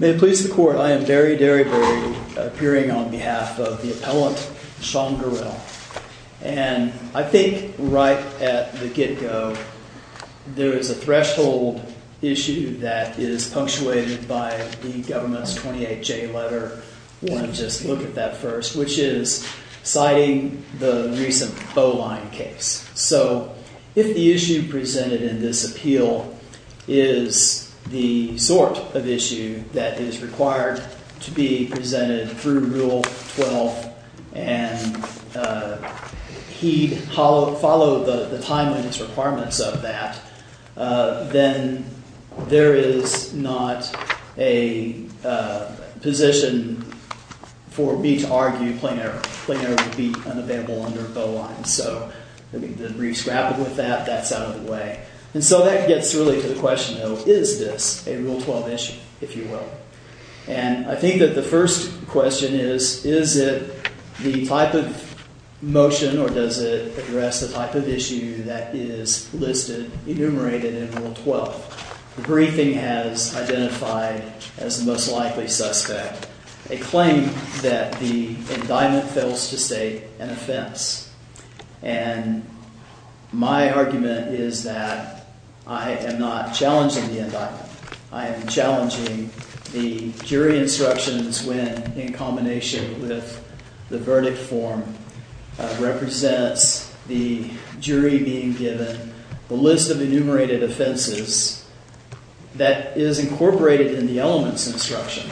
May it please the court, I am Barry Derryberry, appearing on behalf of the appellant, Sean Gorrell, and I think right at the get-go, there is a threshold issue that is punctuated by the government's 28-J letter, I want to just look at that first, which is citing the recent Bowline case. So, if the issue presented in this appeal is the sort of issue that is required to be presented through Rule 12 and he'd follow the timeliness requirements of that, then there is not a position for me to argue plain error. Plain error would be unavailable under Bowline, so the brief's grappled with that, that's out of the way. And so that gets really to the question, though, is this a Rule 12 issue, if you will? And I think that the first question is, is it the type of motion or does it address the type of issue that is listed, enumerated in Rule 12? The briefing has identified as the most likely suspect a claim that the indictment fails to state an offense. And my argument is that I am not challenging the indictment, I am challenging the jury instructions when, in combination with the verdict form, represents the jury being given the list of enumerated offenses that is incorporated in the element's instruction.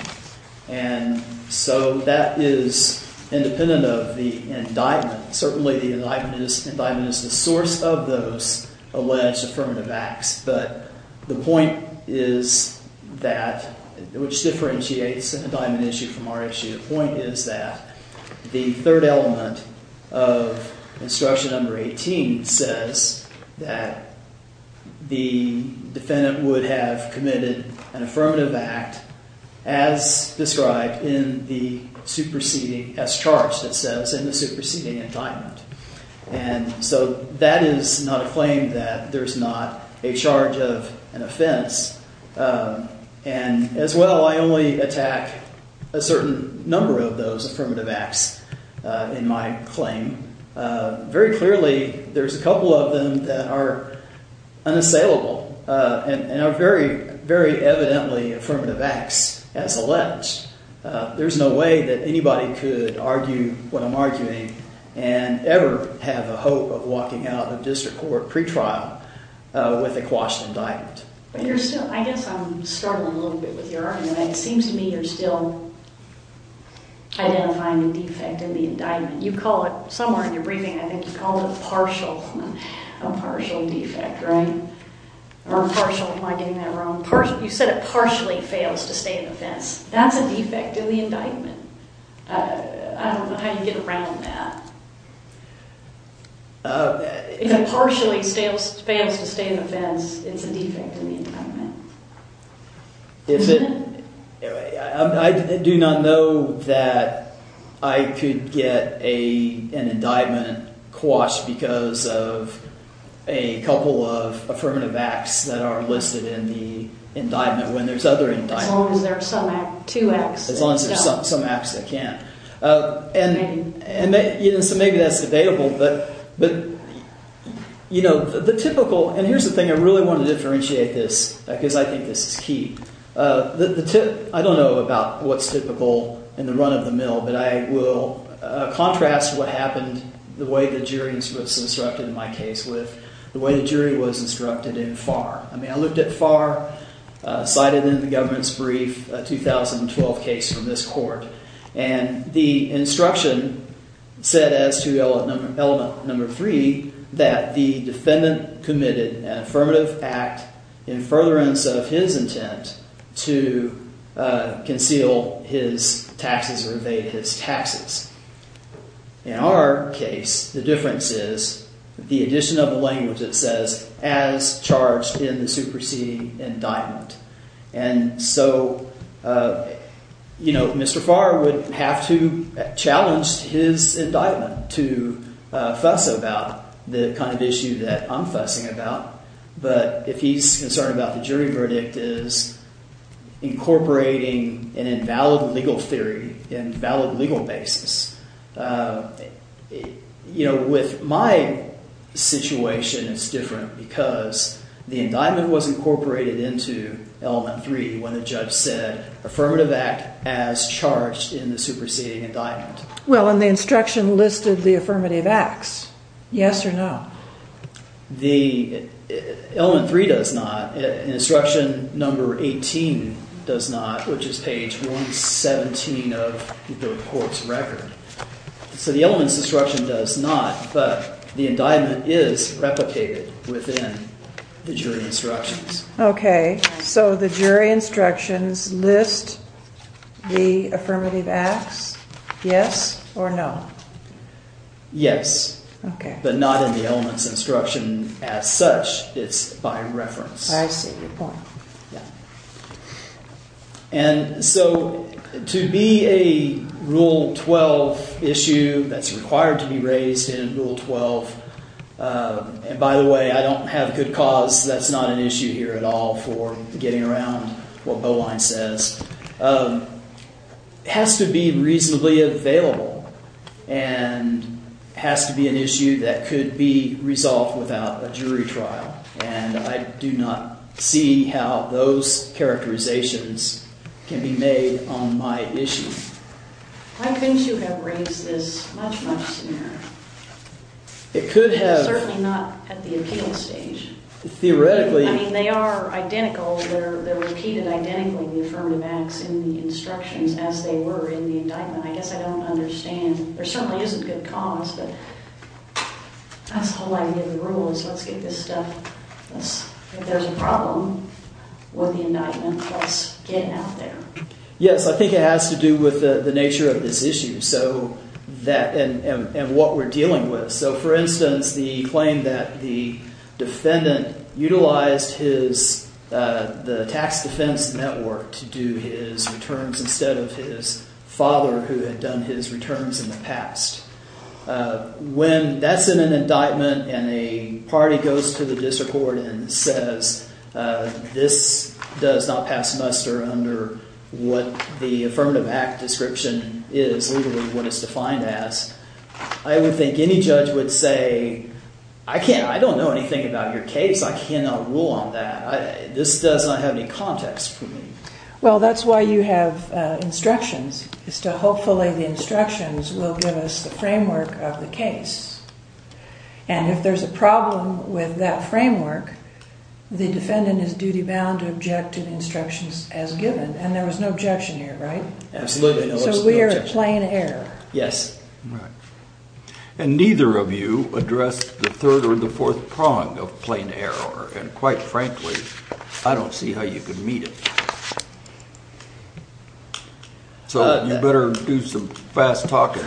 And so that is independent of the indictment. Certainly the indictment is the source of those alleged affirmative acts, but the point is that, which differentiates an indictment issue from our issue, the point is that the defendant would have committed an affirmative act as described in the superseding as charged, it says, in the superseding indictment. And so that is not a claim that there's not a charge of an offense. And as well, I only attack a certain number of those affirmative acts in my claim. Very clearly, there's a couple of them that are unassailable and are very, very evidently affirmative acts as alleged. There's no way that anybody could argue what I'm arguing and ever have a hope of walking out of district court pretrial with a quashed indictment. But you're still, I guess I'm struggling a little bit with your argument. It seems to me you're still identifying the defect in the indictment. You call it, somewhere in your briefing, I think you called it partial, a partial defect, right? Or partial, am I getting that wrong? You said it partially fails to stay in offense. That's a defect in the indictment. I don't know how you get around that. If it partially fails to stay I do not know that I could get an indictment quashed because of a couple of affirmative acts that are listed in the indictment when there's other indictments. As long as there are some, two acts. As long as there's some acts that can. And so maybe that's debatable. But, you know, the typical, and here's the thing, I really want to differentiate this because I think this is key. I don't know about what's typical in the run of the mill, but I will contrast what happened, the way the jury was instructed in my case with the way the jury was instructed in Farr. I mean, I looked at Farr, cited in the government's brief, a 2012 case from this court. And the instruction said as to element number three, that the defendant committed an affirmative act in furtherance of his intent to conceal his taxes or evade his taxes. In our case, the difference is the addition of a language that says as charged in the superseding indictment. And so, you know, Mr. Farr would have to challenge his about. But if he's concerned about the jury verdict is incorporating an invalid legal theory in valid legal basis. You know, with my situation, it's different because the indictment was incorporated into element three when the judge said affirmative act as charged in the superseding indictment. Well, and the instruction listed the affirmative acts. Yes or no? The element three does not. Instruction number 18 does not, which is page 117 of the report's record. So the elements instruction does not, but the indictment is replicated within the jury instructions. Okay, so the jury instructions list the affirmative acts. Yes or no? Yes. Okay. But not in the elements instruction as such. It's by reference. I see your point. Yeah. And so to be a rule 12 issue that's required to be raised in rule 12. And by the way, I don't have good cause. That's not an issue here at all for getting around what has to be reasonably available and has to be an issue that could be resolved without a jury trial. And I do not see how those characterizations can be made on my issue. Why couldn't you have raised this much much scenario? It could have certainly not at the appeal stage. Theoretically, they are identical. They're repeated identically. The affirmative acts in the instructions as they were in the indictment. I guess I don't understand. There certainly isn't good cause, but that's the whole idea of the rule is let's get this stuff. If there's a problem with the indictment, let's get out there. Yes, I think it has to do with the nature of this issue. So that and what we're dealing with. So for instance, the claim that the defendant utilized his the tax defense network to do his returns instead of his father who had done his returns in the past. When that's in an indictment and a party goes to the district court and says this does not pass muster under what the affirmative act description is literally what it's defined as. I would think any judge would say I can't I don't know anything about your case. I cannot rule on that. This does not have any context for me. Well, that's why you have instructions is to hopefully the instructions will give us the framework of the case. And if there's a problem with that framework, the defendant is duty bound to object to the instructions as given. And there was no objection here, right? Absolutely no objection. So we're plain error. Yes. And neither of you addressed the third or the fourth prong of plain error. And quite frankly, I don't see how you could meet it. So you better do some fast talking.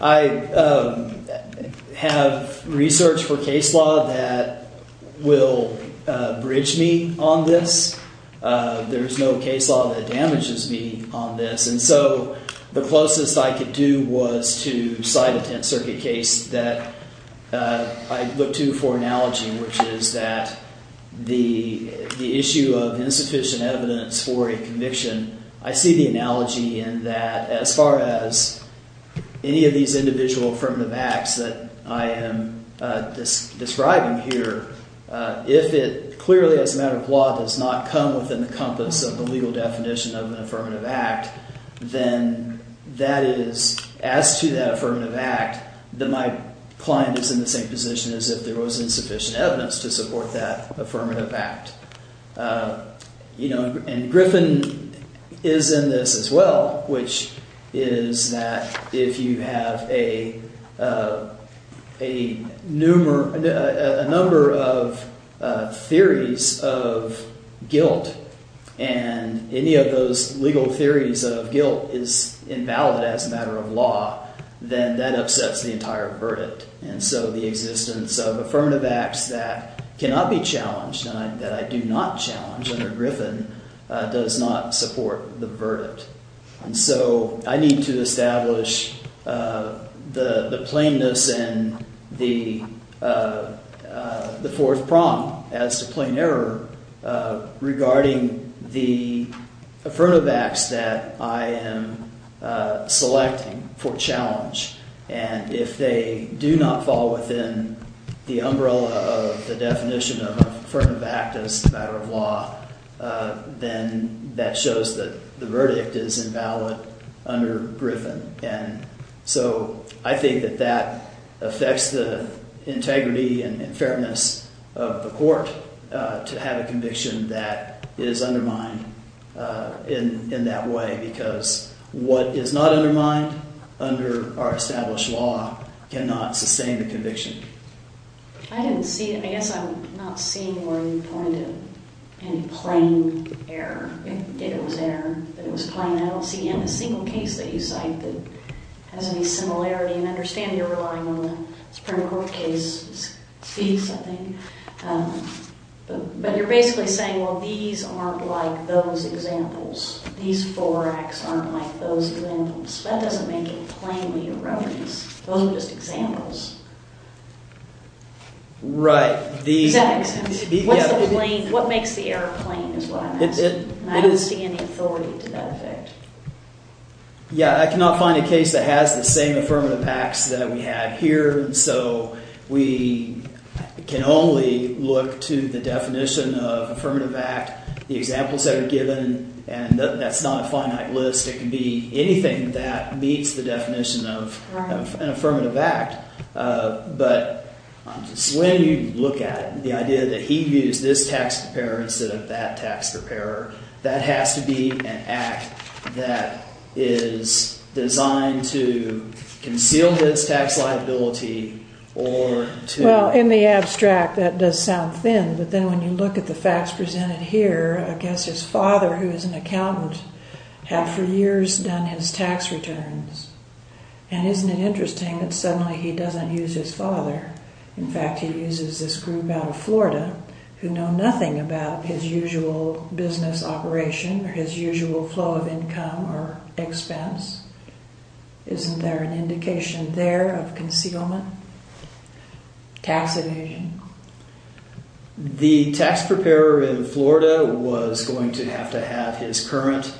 I don't have research for case law that will bridge me on this. There's no case law that damages me on this. And so the closest I could do was to cite a 10th Circuit case that I look to for analogy, which is that the the issue of insufficient evidence for a conviction, I see the analogy in that as far as any of these individual affirmative acts that I am describing here, if it clearly as a matter of law does not come within the compass of the legal definition of an affirmative act, then that is as to that affirmative act that my client is in the same position as if there was insufficient evidence to support that affirmative act. And Griffin is in this as well, which is that if you have a number of theories of guilt and any of those legal theories of guilt is invalid as a matter of law, then that upsets the entire verdict. And so the existence of affirmative acts that cannot be challenged and that I do not challenge under Griffin does not support the verdict. And so I need to establish the plainness and the fourth prong as to plain error regarding the affirmative acts that I am selecting for challenge. And if they do not fall within the umbrella of the definition of affirmative act as a matter of law, then that shows that the verdict is invalid under Griffin. And so I think that that affects the integrity and fairness of the court to have a conviction that is undermined in that way, because what is not undermined under our established law cannot sustain the conviction. I didn't see it. I guess I'm not seeing where you pointed any plain error. It was there, but it was plain. I don't see in a single case that you cite that has any similarity and understand you're relying on the Supreme Court case to see something. But you're basically saying, well, these aren't like those examples. These four acts aren't like those examples. That doesn't make it plainly erroneous. Those are just examples. Right. What makes the error plain is what I'm asking. I don't see any authority to that effect. Yeah, I cannot find a case that has the same affirmative acts that we have here. So we can only look to the definition of affirmative act, the examples that are given, and that's not a finite list. It can be anything that meets the definition of an affirmative act. But when you look at the idea that he used this tax preparer instead of that tax preparer, that has to be an act that is designed to conceal this tax liability. Well, in the abstract, that does sound thin. But then when you look at the facts presented here, I guess his father, who is an accountant, had for years done his tax returns. And isn't it interesting that suddenly he doesn't use his father? In fact, he uses this group out Florida, who know nothing about his usual business operation or his usual flow of income or expense. Isn't there an indication there of concealment, tax evasion? The tax preparer in Florida was going to have to have his current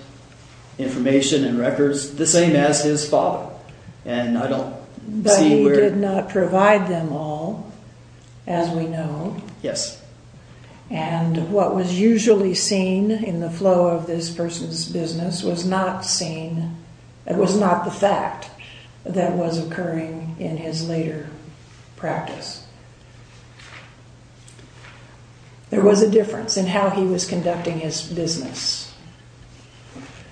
information and records the same as his father. But he did not provide them all, as we know. Yes. And what was usually seen in the flow of this person's business was not seen, it was not the fact that was occurring in his later practice. There was a difference in how he was conducting his business.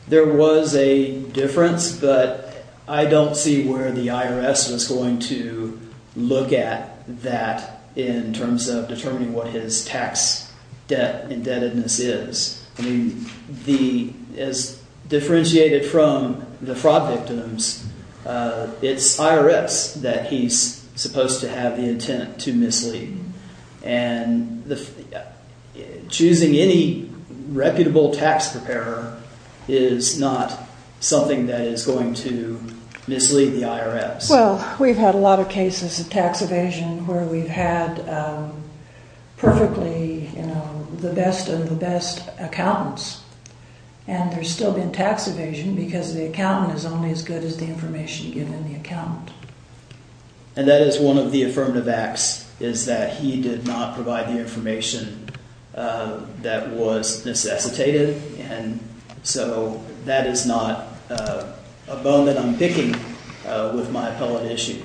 There was a difference, but I don't see where the IRS was going to look at that in terms of determining what his tax debt indebtedness is. I mean, as differentiated from the fraud victims, it's IRS that he's supposed to have the intent to mislead. And choosing any reputable tax preparer is not something that is going to mislead the IRS. Well, we've had a lot of cases of tax evasion where we've had perfectly, you know, the best of the best accountants. And there's still been tax evasion because the accountant is only as good as the information given the account. And that is one of the affirmative acts is that he did not provide the information that was necessitated. And so that is not a bone that I'm picking with my appellate issue.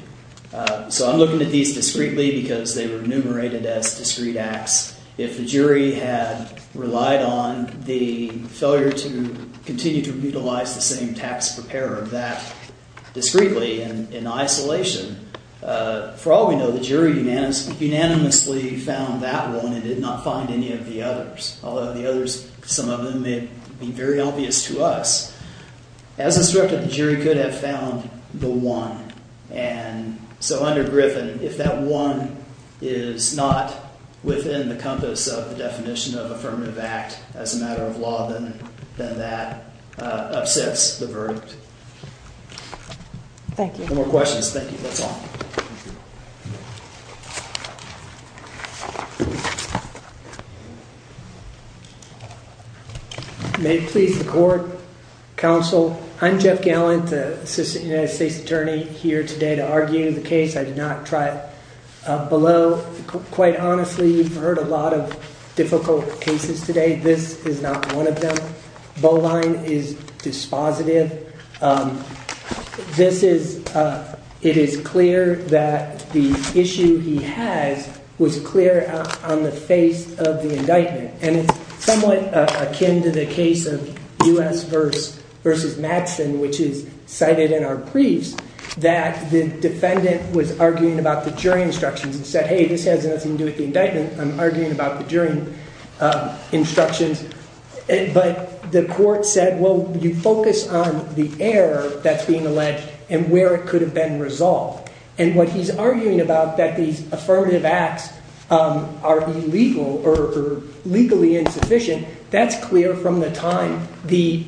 So I'm looking at these discreetly because they were enumerated as discreet acts. If the jury had relied on the failure to continue to utilize the same tax preparer that discreetly and in isolation, for all we know, the jury unanimously found that one and did not find any of the others. Although the others, some of them may be very obvious to us. As instructed, the jury could have found the one. And so under Griffin, if that one is not within the compass of the definition of affirmative act as a matter of law, then that upsets the verdict. Thank you. No more questions. Thank you. That's all. May it please the court, counsel. I'm Jeff Gallant, the assistant United States attorney here today to argue the case. I did not try it below. Quite honestly, you've heard a lot of is dispositive. This is it is clear that the issue he has was clear on the face of the indictment. And it's somewhat akin to the case of U.S. versus Madison, which is cited in our briefs that the defendant was arguing about the jury instructions and said, hey, this has nothing to do with the you focus on the error that's being alleged and where it could have been resolved. And what he's arguing about that these affirmative acts are illegal or legally insufficient, that's clear from the time the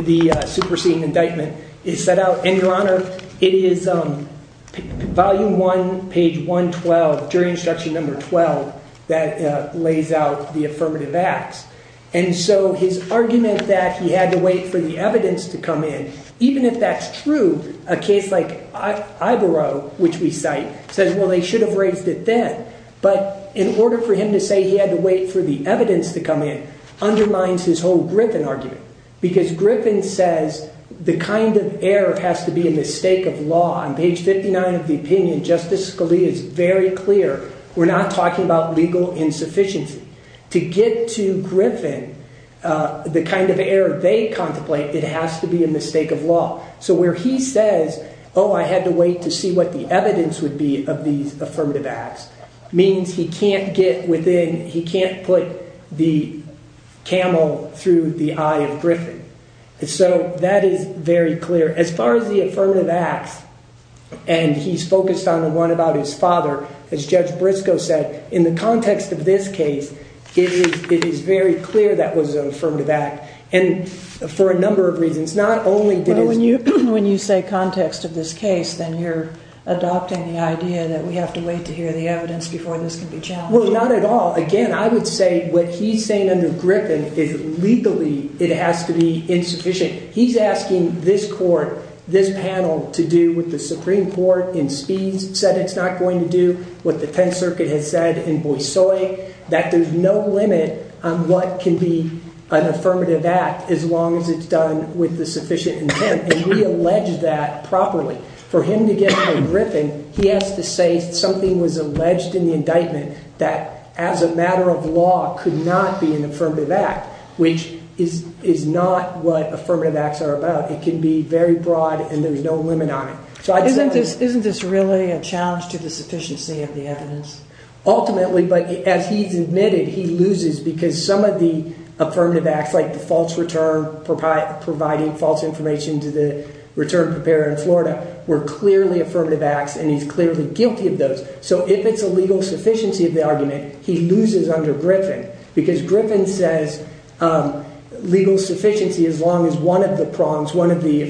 the superseding indictment is set out. And your honor, it is volume one, page 112, jury instruction number 12, that lays out the affirmative acts. And so his argument that he had to wait for the evidence to come in, even if that's true, a case like Ivorow, which we cite, says, well, they should have raised it then. But in order for him to say he had to wait for the evidence to come in undermines his whole Griffin argument, because Griffin says the kind of error has to be in the stake of law. On page 59 of the opinion, Justice Scalia is very clear. We're not about legal insufficiency. To get to Griffin, the kind of error they contemplate, it has to be in the stake of law. So where he says, oh, I had to wait to see what the evidence would be of these affirmative acts means he can't get within, he can't put the camel through the eye of Griffin. So that is very clear. As far as the affirmative acts, and he's focused on the one about his father, as Judge Briscoe said, in the context of this case, it is very clear that was an affirmative act. And for a number of reasons, not only did he... But when you say context of this case, then you're adopting the idea that we have to wait to hear the evidence before this can be challenged. Well, not at all. Again, I would say what he's saying under Griffin is legally it has to be insufficient. He's asking this court, this panel, to do what the Supreme Court in speeds said it's going to do, what the 10th Circuit has said in Boise, that there's no limit on what can be an affirmative act as long as it's done with the sufficient intent. And we allege that properly. For him to get to Griffin, he has to say something was alleged in the indictment that as a matter of law could not be an affirmative act, which is not what affirmative acts are about. It can be very challenging to the sufficiency of the evidence. Ultimately, but as he's admitted, he loses because some of the affirmative acts like the false return providing false information to the return preparer in Florida were clearly affirmative acts and he's clearly guilty of those. So if it's a legal sufficiency of the argument, he loses under Griffin because Griffin says legal sufficiency as long as one of the prongs, one of the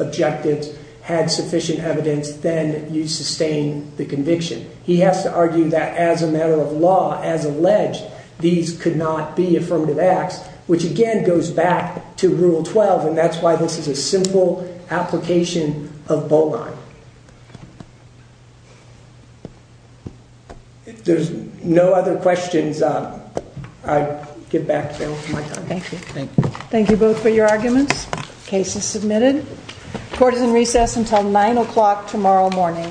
objectives had sufficient evidence, then you sustain the conviction. He has to argue that as a matter of law, as alleged, these could not be affirmative acts, which again goes back to Rule 12 and that's why this is a simple application of Boline. There's no other questions. I give back to Bill. Thank you. Thank you both for your arguments. Case is submitted. Court is in recess until nine o'clock tomorrow morning.